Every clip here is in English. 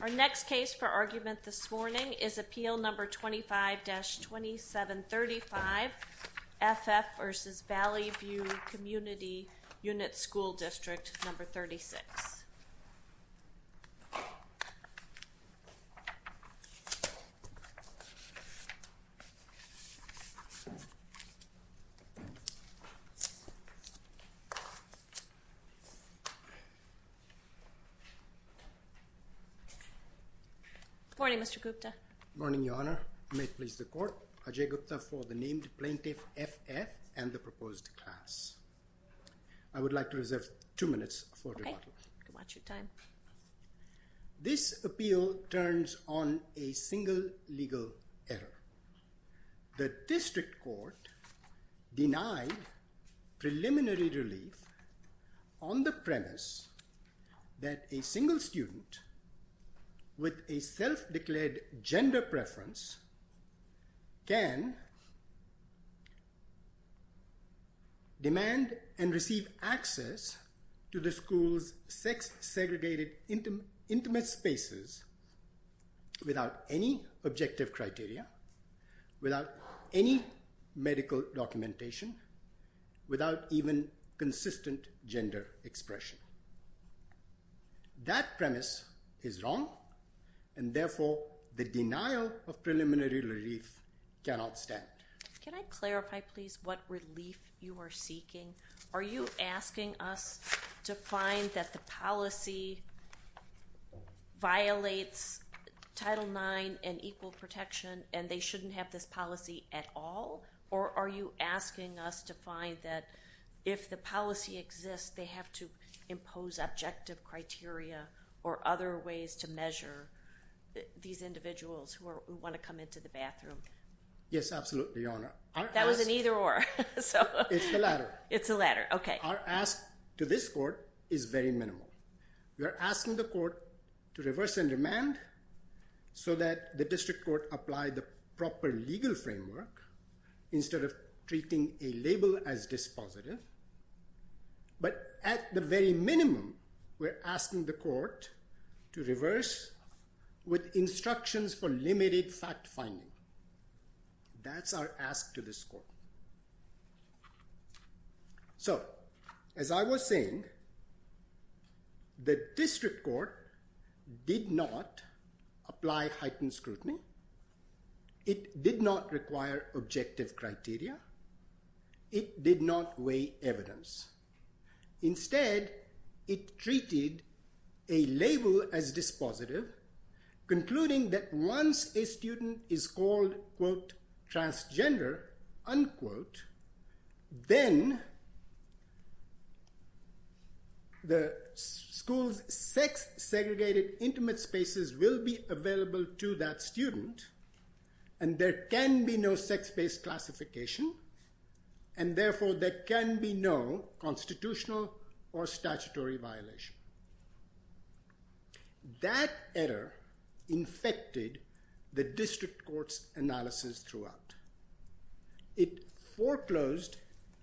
Our next case for argument this morning is Appeal Number 25-2735, F. F. v. Valley View Community Unit School District, Number 36. Good morning, Mr. Gupta. Good morning, Your Honor. May it please the Court? Ajay Gupta for the named plaintiff, F. F., and the proposed class. I would like to reserve two minutes for rebuttal. Okay. You can watch your time. This appeal turns on a single legal error. The district court denied preliminary relief on the premise that a single student with a self-declared gender preference can demand and receive access to the school's sex-segregated intimate spaces without any objective criteria. Without any medical documentation. Without even consistent gender expression. That premise is wrong, and therefore the denial of preliminary relief cannot stand. Can I clarify, please, what relief you are seeking? Are you asking us to find that the policy violates Title IX and equal protection and they shouldn't have this policy at all? Or are you asking us to find that if the policy exists, they have to impose objective criteria or other ways to measure these individuals who want to come into the bathroom? Yes, absolutely, Your Honor. That was an either-or. It's the latter. It's the latter. Okay. Our ask to this court is very minimal. We are asking the court to reverse and demand so that the district court apply the proper legal framework instead of treating a label as dispositive. But at the very minimum, we're asking the court to reverse with instructions for limited fact-finding. That's our ask to this court. So, as I was saying, the district court did not apply heightened scrutiny. It did not require objective criteria. It did not weigh evidence. Instead, it treated a label as dispositive, concluding that once a student is called, quote, transgender, unquote, then the school's sex-segregated intimate spaces will be available to that student. And there can be no sex-based classification, and therefore there can be no constitutional or statutory violation. That error infected the district court's analysis throughout. It foreclosed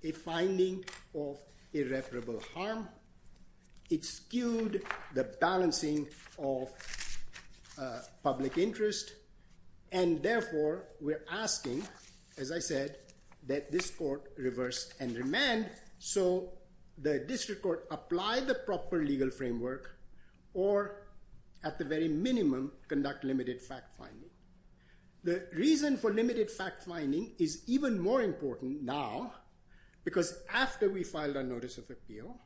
a finding of irreparable harm. It skewed the balancing of public interest, and therefore we're asking, as I said, that this court reverse and demand so the district court apply the proper legal framework or, at the very minimum, conduct limited fact-finding. The reason for limited fact-finding is even more important now, because after we filed our notice of appeal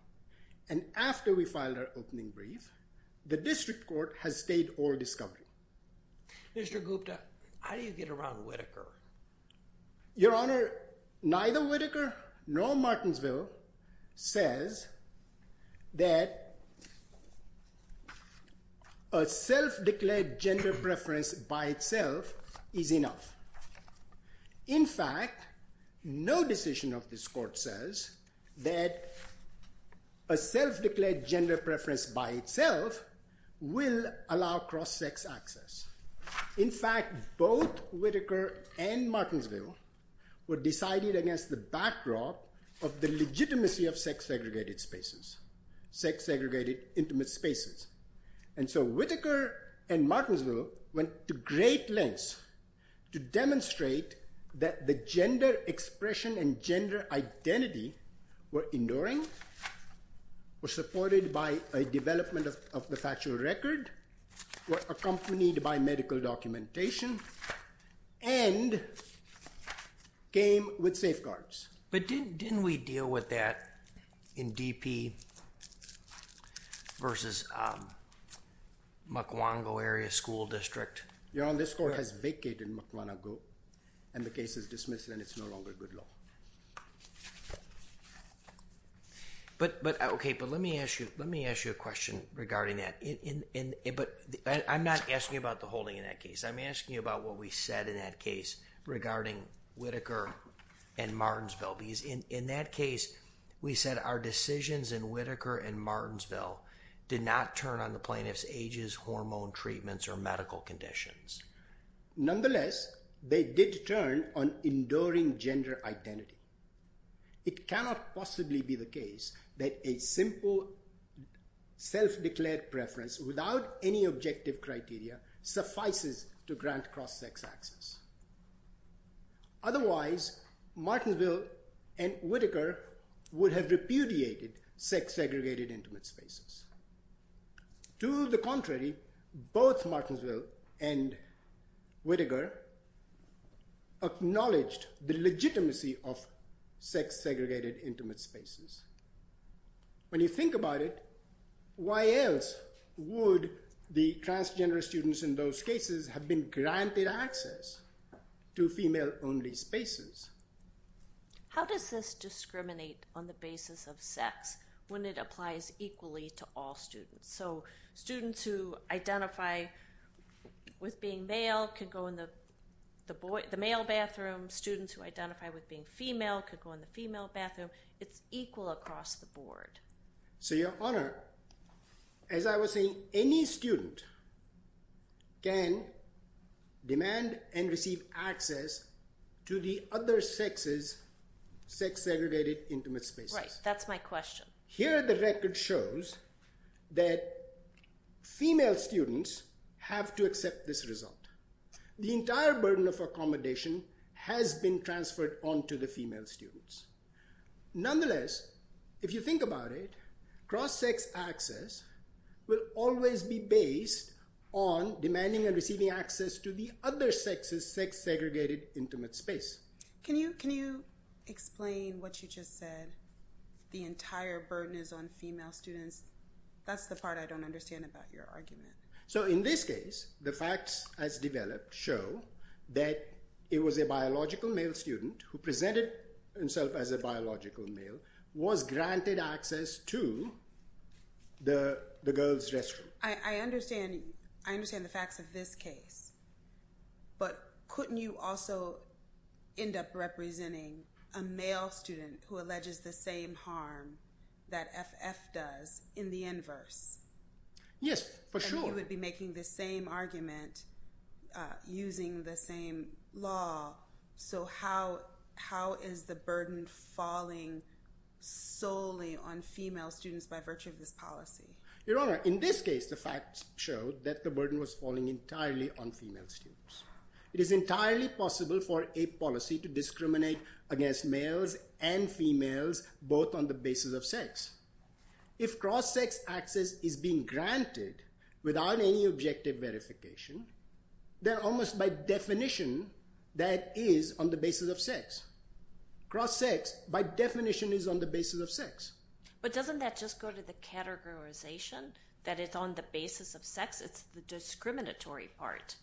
and after we filed our opening brief, the district court has stayed all discovery. Mr. Gupta, how do you get around Whitaker? Your Honor, neither Whitaker nor Martensville says that a self-declared gender preference by itself is enough. In fact, no decision of this court says that a self-declared gender preference by itself will allow cross-sex access. In fact, both Whitaker and Martensville were decided against the backdrop of the legitimacy of sex-segregated intimate spaces. And so Whitaker and Martensville went to great lengths to demonstrate that the gender expression and gender identity were enduring, were supported by a development of the factual record, were accompanied by medical documentation, and came with safeguards. But didn't we deal with that in DP versus Mukwango area school district? Your Honor, this court has vacated Mukwango, and the case is dismissed, and it's no longer good law. Okay, but let me ask you a question regarding that. But I'm not asking you about the holding in that case. I'm asking you about what we said in that case regarding Whitaker and Martensville. Because in that case, we said our decisions in Whitaker and Martensville did not turn on the plaintiff's ages, hormone treatments, or medical conditions. Nonetheless, they did turn on enduring gender identity. It cannot possibly be the case that a simple self-declared preference without any objective criteria suffices to grant cross-sex access. Otherwise, Martensville and Whitaker would have repudiated sex-segregated intimate spaces. To the contrary, both Martensville and Whitaker acknowledged the legitimacy of sex-segregated intimate spaces. When you think about it, why else would the transgender students in those cases have been granted access to female-only spaces? How does this discriminate on the basis of sex when it applies equally to all students? So students who identify with being male could go in the male bathroom. Students who identify with being female could go in the female bathroom. It's equal across the board. So, Your Honor, as I was saying, any student can demand and receive access to the other sex's sex-segregated intimate spaces. Right. That's my question. Here, the record shows that female students have to accept this result. The entire burden of accommodation has been transferred onto the female students. Nonetheless, if you think about it, cross-sex access will always be based on demanding and receiving access to the other sex's sex-segregated intimate space. Can you explain what you just said? The entire burden is on female students. That's the part I don't understand about your argument. So in this case, the facts as developed show that it was a biological male student who presented himself as a biological male, was granted access to the girls' restroom. I understand the facts of this case, but couldn't you also end up representing a male student who alleges the same harm that FF does in the inverse? Yes, for sure. You would be making the same argument using the same law. So how is the burden falling solely on female students by virtue of this policy? Your Honor, in this case, the facts show that the burden was falling entirely on female students. It is entirely possible for a policy to discriminate against males and females, both on the basis of sex. If cross-sex access is being granted without any objective verification, then almost by definition, that is on the basis of sex. Cross-sex, by definition, is on the basis of sex. But doesn't that just go to the categorization that it's on the basis of sex? It's the discriminatory part,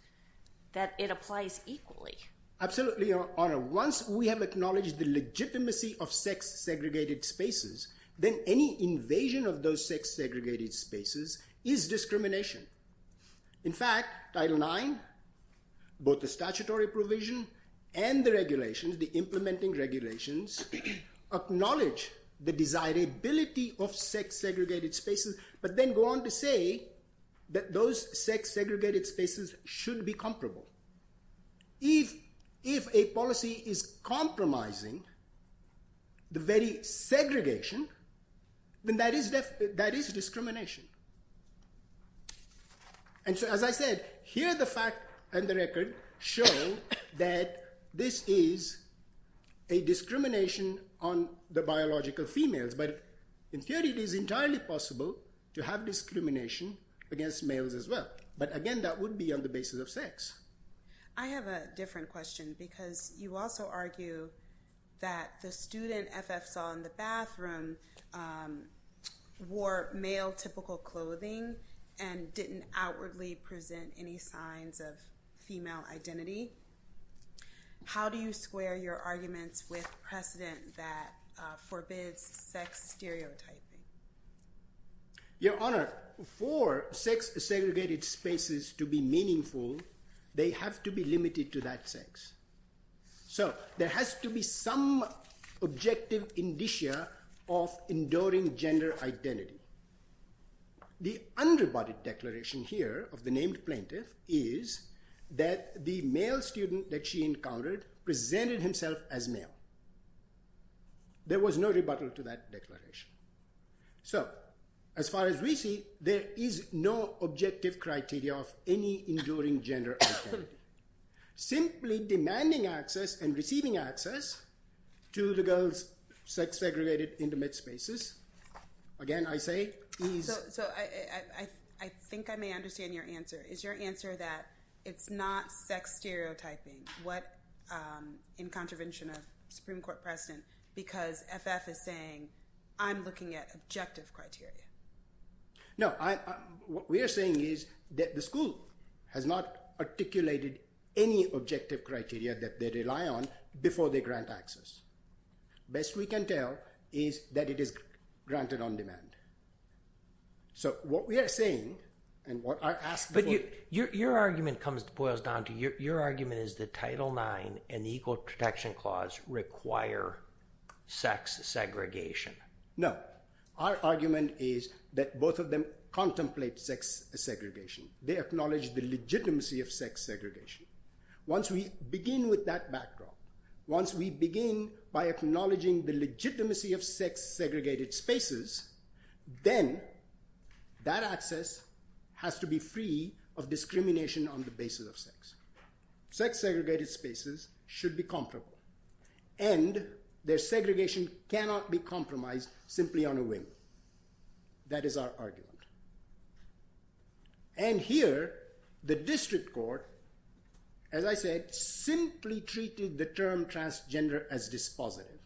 that it applies equally. Absolutely, Your Honor. Once we have acknowledged the legitimacy of sex-segregated spaces, then any invasion of those sex-segregated spaces is discrimination. In fact, Title IX, both the statutory provision and the regulations, the implementing regulations, acknowledge the desirability of sex-segregated spaces, but then go on to say that those sex-segregated spaces should be comparable. If a policy is compromising the very segregation, then that is discrimination. And so, as I said, here the fact and the record show that this is a discrimination on the biological females. But in theory, it is entirely possible to have discrimination against males as well. But again, that would be on the basis of sex. I have a different question because you also argue that the student FF saw in the bathroom wore male-typical clothing and didn't outwardly present any signs of female identity. How do you square your arguments with precedent that forbids sex stereotyping? Your Honor, for sex-segregated spaces to be meaningful, they have to be limited to that sex. So there has to be some objective indicia of enduring gender identity. The underbodied declaration here of the named plaintiff is that the male student that she encountered presented himself as male. There was no rebuttal to that declaration. So, as far as we see, there is no objective criteria of any enduring gender identity. Simply demanding access and receiving access to the girls' sex-segregated intimate spaces, again, I say is... So I think I may understand your answer. Is your answer that it's not sex stereotyping in contravention of Supreme Court precedent because FF is saying, I'm looking at objective criteria? No, what we are saying is that the school has not articulated any objective criteria that they rely on before they grant access. Best we can tell is that it is granted on demand. So what we are saying, and what I asked before... But your argument boils down to, your argument is that Title IX and the Equal Protection Clause require sex segregation. No. Our argument is that both of them contemplate sex segregation. They acknowledge the legitimacy of sex segregation. Once we begin with that backdrop, once we begin by acknowledging the legitimacy of sex-segregated spaces, then that access has to be free of discrimination on the basis of sex. Sex-segregated spaces should be comparable. And their segregation cannot be compromised simply on a wing. That is our argument. And here, the district court, as I said, simply treated the term transgender as dispositive.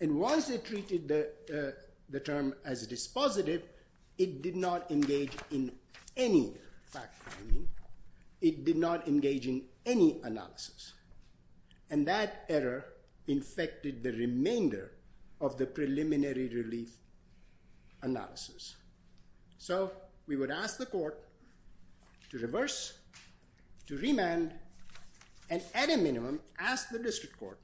And once it treated the term as dispositive, it did not engage in any fact-finding. It did not engage in any analysis. And that error infected the remainder of the preliminary relief analysis. So we would ask the court to reverse, to remand, and at a minimum, ask the district court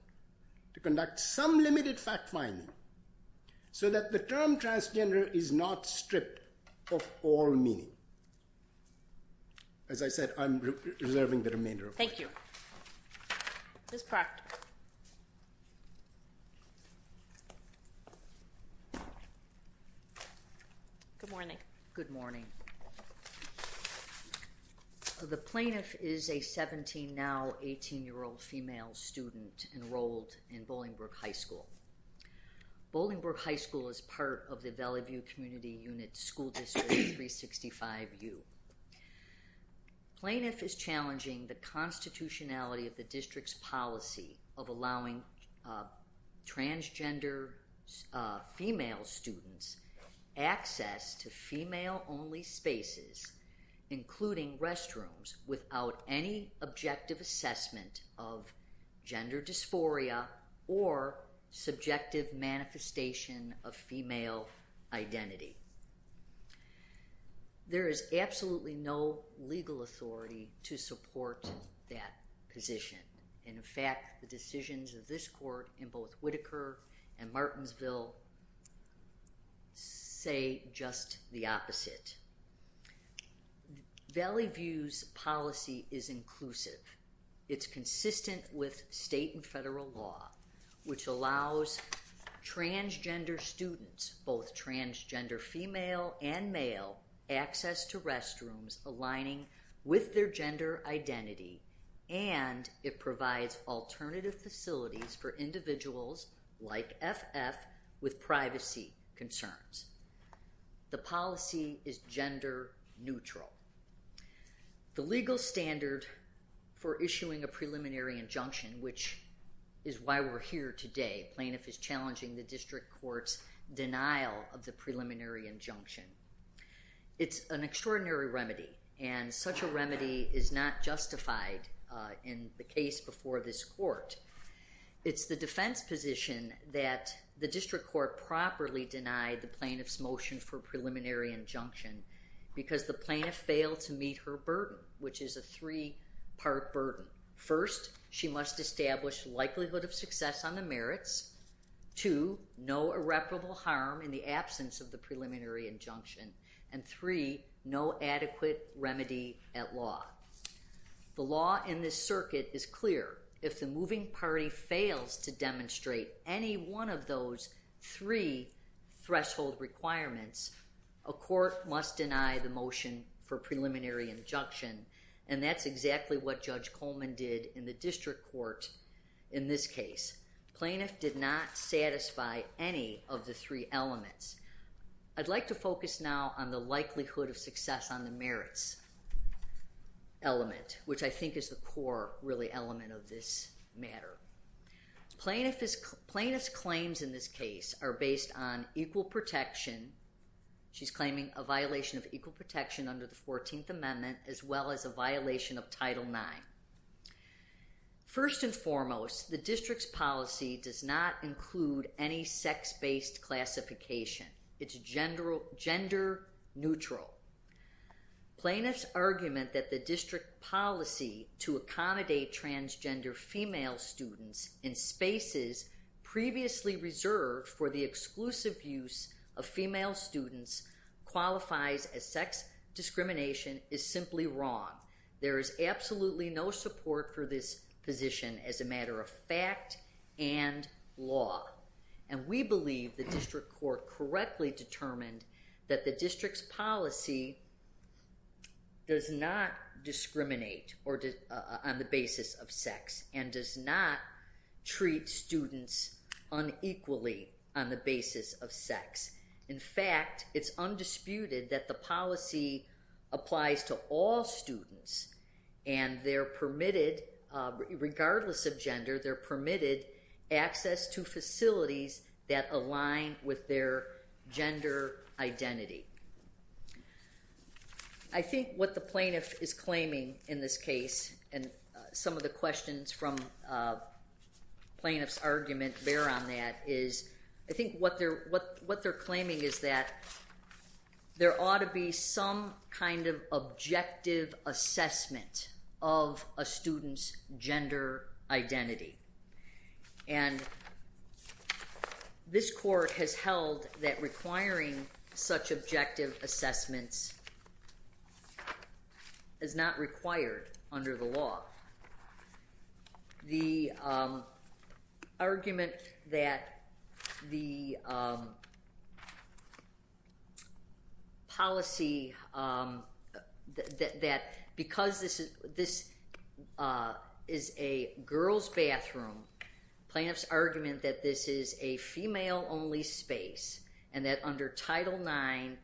to conduct some limited fact-finding so that the term transgender is not stripped of all meaning. As I said, I'm reserving the remainder of my time. Thank you. Ms. Proctor. Good morning. Good morning. The plaintiff is a 17, now 18-year-old female student enrolled in Bolingbrook High School. Bolingbrook High School is part of the Valley View Community Unit School District 365U. Plaintiff is challenging the constitutionality of the district's policy of allowing transgender female students access to female-only spaces, including restrooms, without any objective assessment of gender dysphoria or subjective manifestation of female identity. There is absolutely no legal authority to support that position. And in fact, the decisions of this court in both Whitaker and Martinsville say just the opposite. Valley View's policy is inclusive. It's consistent with state and federal law, which allows transgender students, both transgender female and male, access to restrooms aligning with their gender identity, and it provides alternative facilities for individuals like FF with privacy concerns. The policy is gender neutral. The legal standard for issuing a preliminary injunction, which is why we're here today, plaintiff is challenging the district court's denial of the preliminary injunction. It's an extraordinary remedy, and such a remedy is not justified in the case before this court. It's the defense position that the district court properly denied the plaintiff's motion for preliminary injunction because the plaintiff failed to meet her burden, which is a three-part burden. First, she must establish likelihood of success on the merits. Two, no irreparable harm in the absence of the preliminary injunction. And three, no adequate remedy at law. The law in this circuit is clear. If the moving party fails to demonstrate any one of those three threshold requirements, a court must deny the motion for preliminary injunction, and that's exactly what Judge Coleman did in the district court in this case. Plaintiff did not satisfy any of the three elements. I'd like to focus now on the likelihood of success on the merits element, which I think is the core, really, element of this matter. Plaintiff's claims in this case are based on equal protection. She's claiming a violation of equal protection under the 14th Amendment as well as a violation of Title IX. First and foremost, the district's policy does not include any sex-based classification. It's gender neutral. Plaintiff's argument that the district policy to accommodate transgender female students in spaces previously reserved for the exclusive use of female students qualifies as sex discrimination is simply wrong. There is absolutely no support for this position as a matter of fact and law. And we believe the district court correctly determined that the district's policy does not discriminate on the basis of sex and does not treat students unequally on the basis of sex. In fact, it's undisputed that the policy applies to all students, and they're permitted, regardless of gender, they're permitted access to facilities that align with their gender identity. I think what the plaintiff is claiming in this case, and some of the questions from plaintiff's argument bear on that, is I think what they're claiming is that there ought to be some kind of objective assessment of a student's gender identity. And this court has held that requiring such objective assessments is not required under the law. The argument that the policy, that because this is a girls' bathroom, plaintiff's argument that this is a female-only space and that under Title IX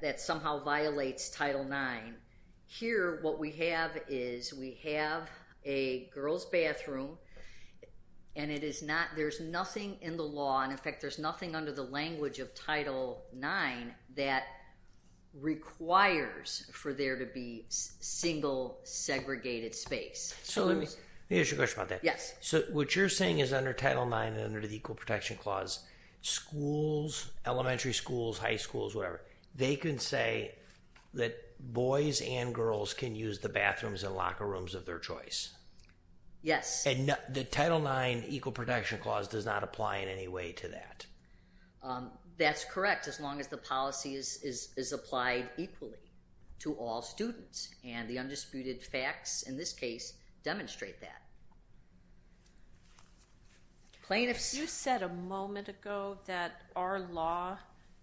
that somehow violates Title IX, here what we have is we have a girls' bathroom and it is not, there's nothing in the law, and in fact there's nothing under the language of Title IX that requires for there to be single segregated space. So let me ask you a question about that. Yes. So what you're saying is under Title IX and under the Equal Protection Clause, schools, elementary schools, high schools, whatever, they can say that boys and girls can use the bathrooms and locker rooms of their choice? Yes. And the Title IX Equal Protection Clause does not apply in any way to that? That's correct, as long as the policy is applied equally to all students, and the undisputed facts in this case demonstrate that. Plaintiffs? You said a moment ago that our law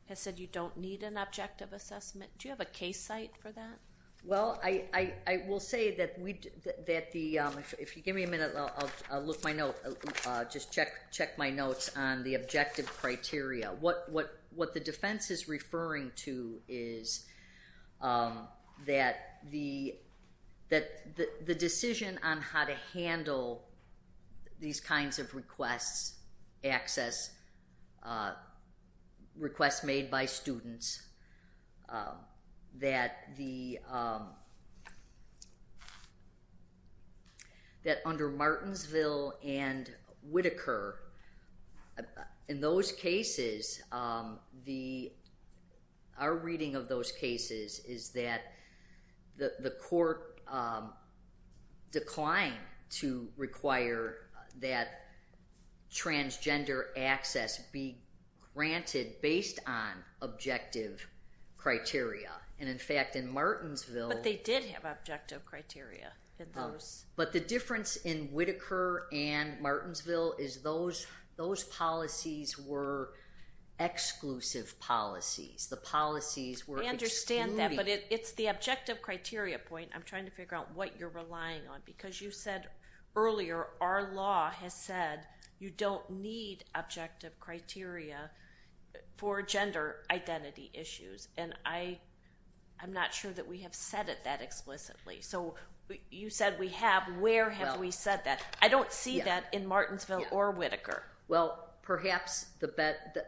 has said you don't need an objective assessment. Do you have a case site for that? Well, I will say that if you give me a minute, I'll look my notes, just check my notes on the objective criteria. What the defense is referring to is that the decision on how to handle these kinds of requests, access, requests made by students, that under Martinsville and Whitaker, in those cases, our reading of those cases is that the court declined to require that transgender access be granted based on objective criteria, and in fact in Martinsville But they did have objective criteria in those. But the difference in Whitaker and Martinsville is those policies were exclusive policies. The policies were excluded. I understand that, but it's the objective criteria point. I'm trying to figure out what you're relying on, because you said earlier, our law has said you don't need objective criteria for gender identity issues, and I'm not sure that we have said it that explicitly. So you said we have. Where have we said that? I don't see that in Martinsville or Whitaker. Well, perhaps the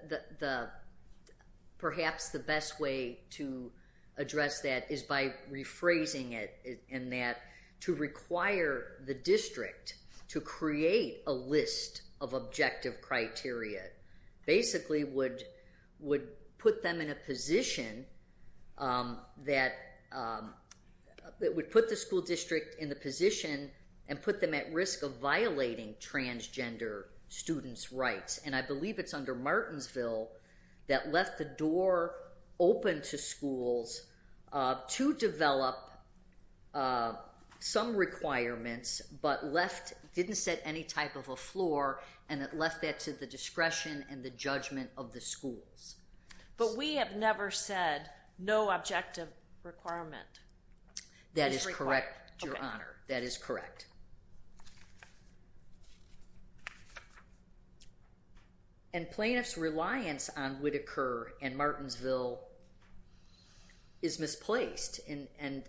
best way to address that is by rephrasing it, in that to require the district to create a list of objective criteria that basically would put the school district in a position and put them at risk of violating transgender students' rights. And I believe it's under Martinsville that left the door open to schools to develop some requirements but didn't set any type of a floor, and it left that to the discretion and the judgment of the schools. But we have never said no objective requirement. That is correct, Your Honor. That is correct. And plaintiffs' reliance on Whitaker and Martinsville is misplaced, and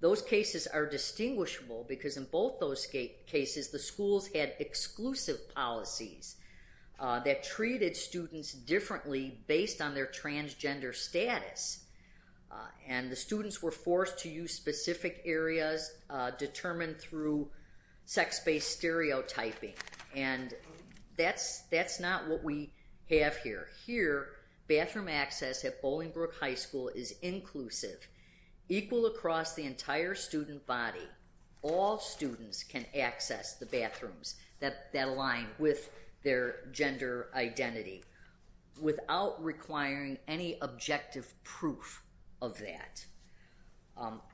those cases are distinguishable because in both those cases, the schools had exclusive policies that treated students differently based on their transgender status, and the students were forced to use specific areas determined through sex-based stereotyping. And that's not what we have here. Here, bathroom access at Bolingbrook High School is inclusive, equal across the entire student body. All students can access the bathrooms that align with their gender identity without requiring any objective proof of that.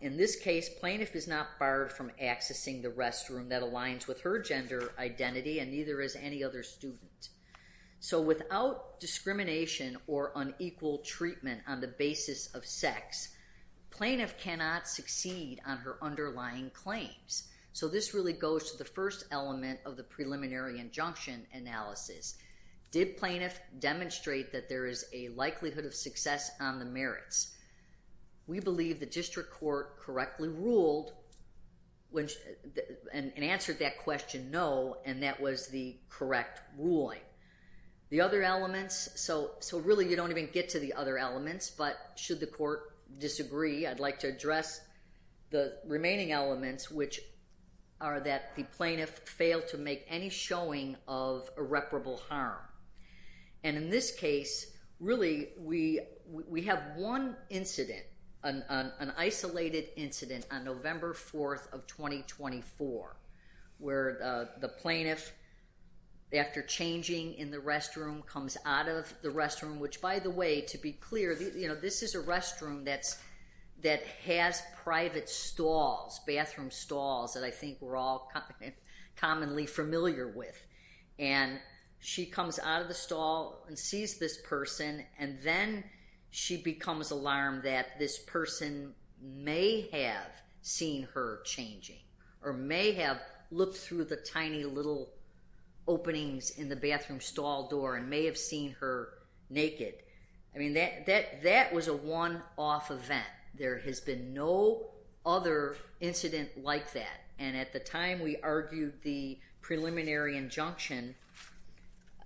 In this case, plaintiff is not barred from accessing the restroom that aligns with her gender identity and neither is any other student. So without discrimination or unequal treatment on the basis of sex, plaintiff cannot succeed on her underlying claims. So this really goes to the first element of the preliminary injunction analysis. Did plaintiff demonstrate that there is a likelihood of success on the merits? We believe the district court correctly ruled and answered that question no, and that was the correct ruling. The other elements, so really you don't even get to the other elements, but should the court disagree, I'd like to address the remaining elements, which are that the plaintiff failed to make any showing of irreparable harm. And in this case, really we have one incident, an isolated incident on November 4th of 2024, where the plaintiff, after changing in the restroom, comes out of the restroom, which by the way, to be clear, this is a restroom that has private stalls, bathroom stalls that I think we're all commonly familiar with. And she comes out of the stall and sees this person, and then she becomes alarmed that this person may have seen her changing or may have looked through the tiny little openings in the bathroom stall door and may have seen her naked. I mean, that was a one-off event. There has been no other incident like that. And at the time we argued the preliminary injunction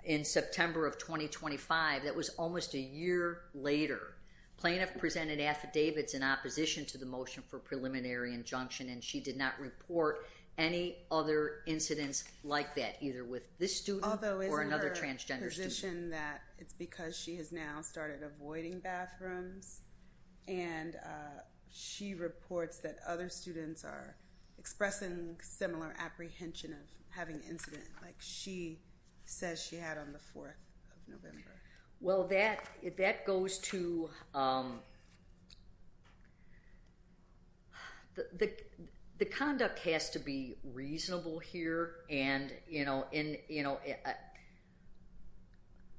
in September of 2025, that was almost a year later, plaintiff presented affidavits in opposition to the motion for preliminary injunction, and she did not report any other incidents like that, either with this student or another transgender student. Although isn't her position that it's because she has now started avoiding bathrooms, and she reports that other students are expressing similar apprehension of having incidents like she says she had on the 4th of November? Well, that goes to the conduct has to be reasonable here, and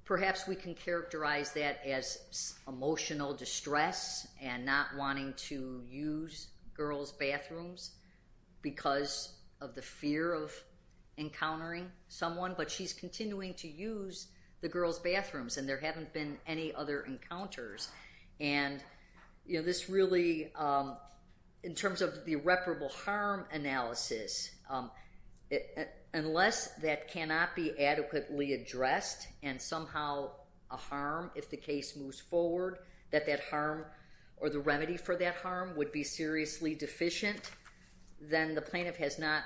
perhaps we can characterize that as emotional distress and not wanting to use girls' bathrooms because of the fear of encountering someone, but she's continuing to use the girls' bathrooms, and there haven't been any other encounters. And this really, in terms of the irreparable harm analysis, unless that cannot be adequately addressed and somehow a harm if the case moves forward, that that harm or the remedy for that harm would be seriously deficient, then the plaintiff has not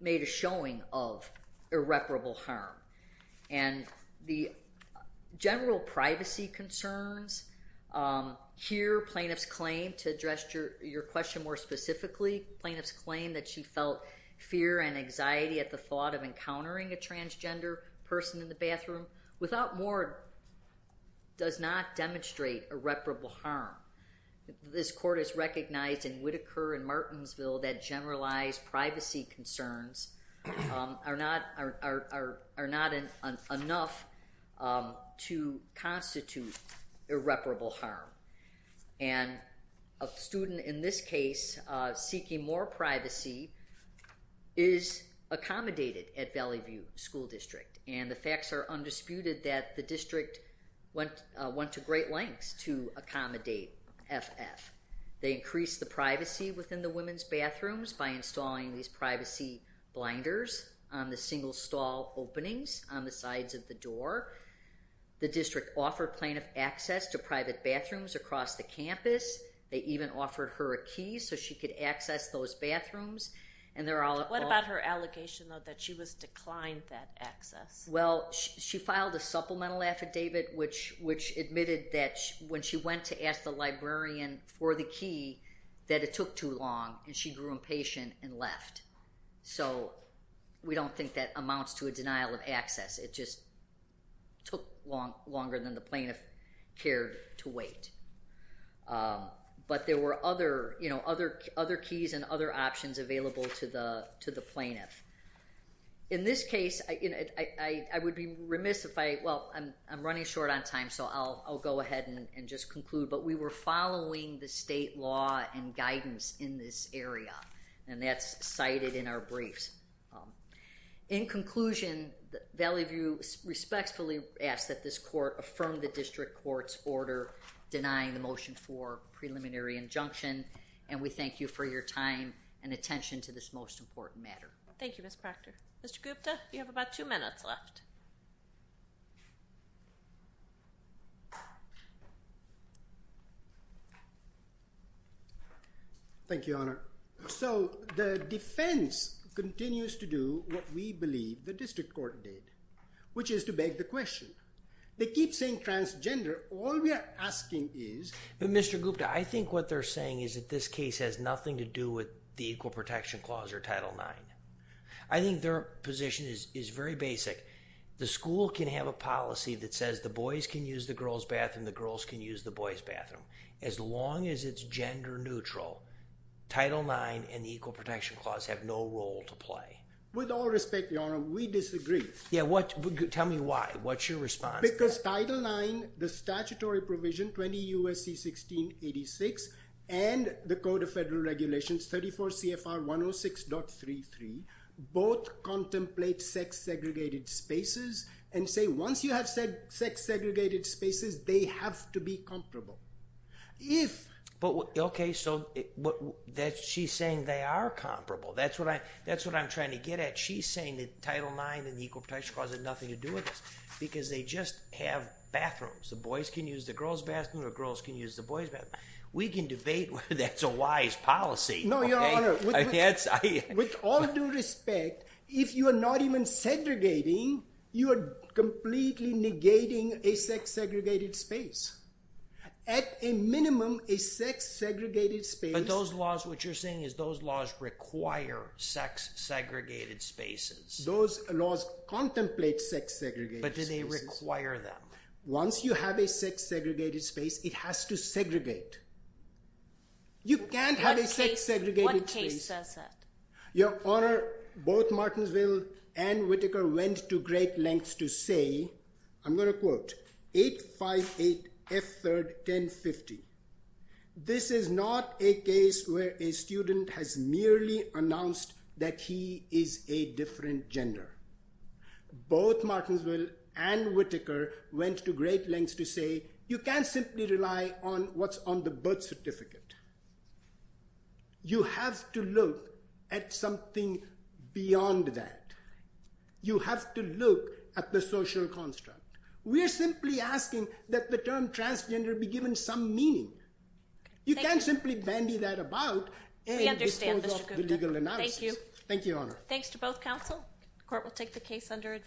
made a showing of irreparable harm. And the general privacy concerns here, plaintiff's claim to address your question more specifically, plaintiff's claim that she felt fear and anxiety at the thought of encountering a transgender person in the bathroom, without more does not demonstrate irreparable harm. This court has recognized in Whittaker and Martensville that generalized privacy concerns are not enough to constitute irreparable harm. And a student in this case seeking more privacy is accommodated at Valley View School District, and the facts are undisputed that the district went to great lengths to accommodate FF. They increased the privacy within the women's bathrooms by installing these privacy blinders on the single stall openings on the sides of the door. The district offered plaintiff access to private bathrooms across the campus. They even offered her a key so she could access those bathrooms. What about her allegation, though, that she was declined that access? Well, she filed a supplemental affidavit which admitted that when she went to ask the librarian for the key, that it took too long, and she grew impatient and left. So we don't think that amounts to a denial of access. It just took longer than the plaintiff cared to wait. But there were other keys and other options available to the plaintiff. In this case, I would be remiss if I, well, I'm running short on time, so I'll go ahead and just conclude, but we were following the state law and guidance in this area, and that's cited in our briefs. In conclusion, Valley View respectfully asks that this court affirm the district court's order denying the motion for preliminary injunction, and we thank you for your time and attention to this most important matter. Thank you, Ms. Proctor. Mr. Gupta, you have about two minutes left. Thank you, Honor. So the defense continues to do what we believe the district court did, which is to beg the question. They keep saying transgender. But, Mr. Gupta, I think what they're saying is that this case has nothing to do with the Equal Protection Clause or Title IX. I think their position is very basic. The school can have a policy that says the boys can use the girls' bathroom, the girls can use the boys' bathroom. As long as it's gender neutral, Title IX and the Equal Protection Clause have no role to play. With all respect, Your Honor, we disagree. Tell me why. What's your response? Because Title IX, the statutory provision, 20 U.S.C. 1686, and the Code of Federal Regulations, 34 CFR 106.33, both contemplate sex-segregated spaces and say once you have sex-segregated spaces, they have to be comparable. Okay, so she's saying they are comparable. That's what I'm trying to get at. She's saying that Title IX and the Equal Protection Clause have nothing to do with this because they just have bathrooms. The boys can use the girls' bathroom or the girls can use the boys' bathroom. We can debate whether that's a wise policy. No, Your Honor, with all due respect, if you are not even segregating, you are completely negating a sex-segregated space. At a minimum, a sex-segregated space— But those laws, what you're saying is those laws require sex-segregated spaces. Those laws contemplate sex-segregated spaces. But do they require them? Once you have a sex-segregated space, it has to segregate. You can't have a sex-segregated space— What case says that? Your Honor, both Martensville and Whitaker went to great lengths to say, I'm going to quote, 858 F. 3rd. 1050. This is not a case where a student has merely announced that he is a different gender. Both Martensville and Whitaker went to great lengths to say, you can't simply rely on what's on the birth certificate. You have to look at something beyond that. You have to look at the social construct. We're simply asking that the term transgender be given some meaning. You can't simply bandy that about. We understand, Mr. Gupta. Thank you. Thank you, Your Honor. Thanks to both counsel. The court will take the case under advisory.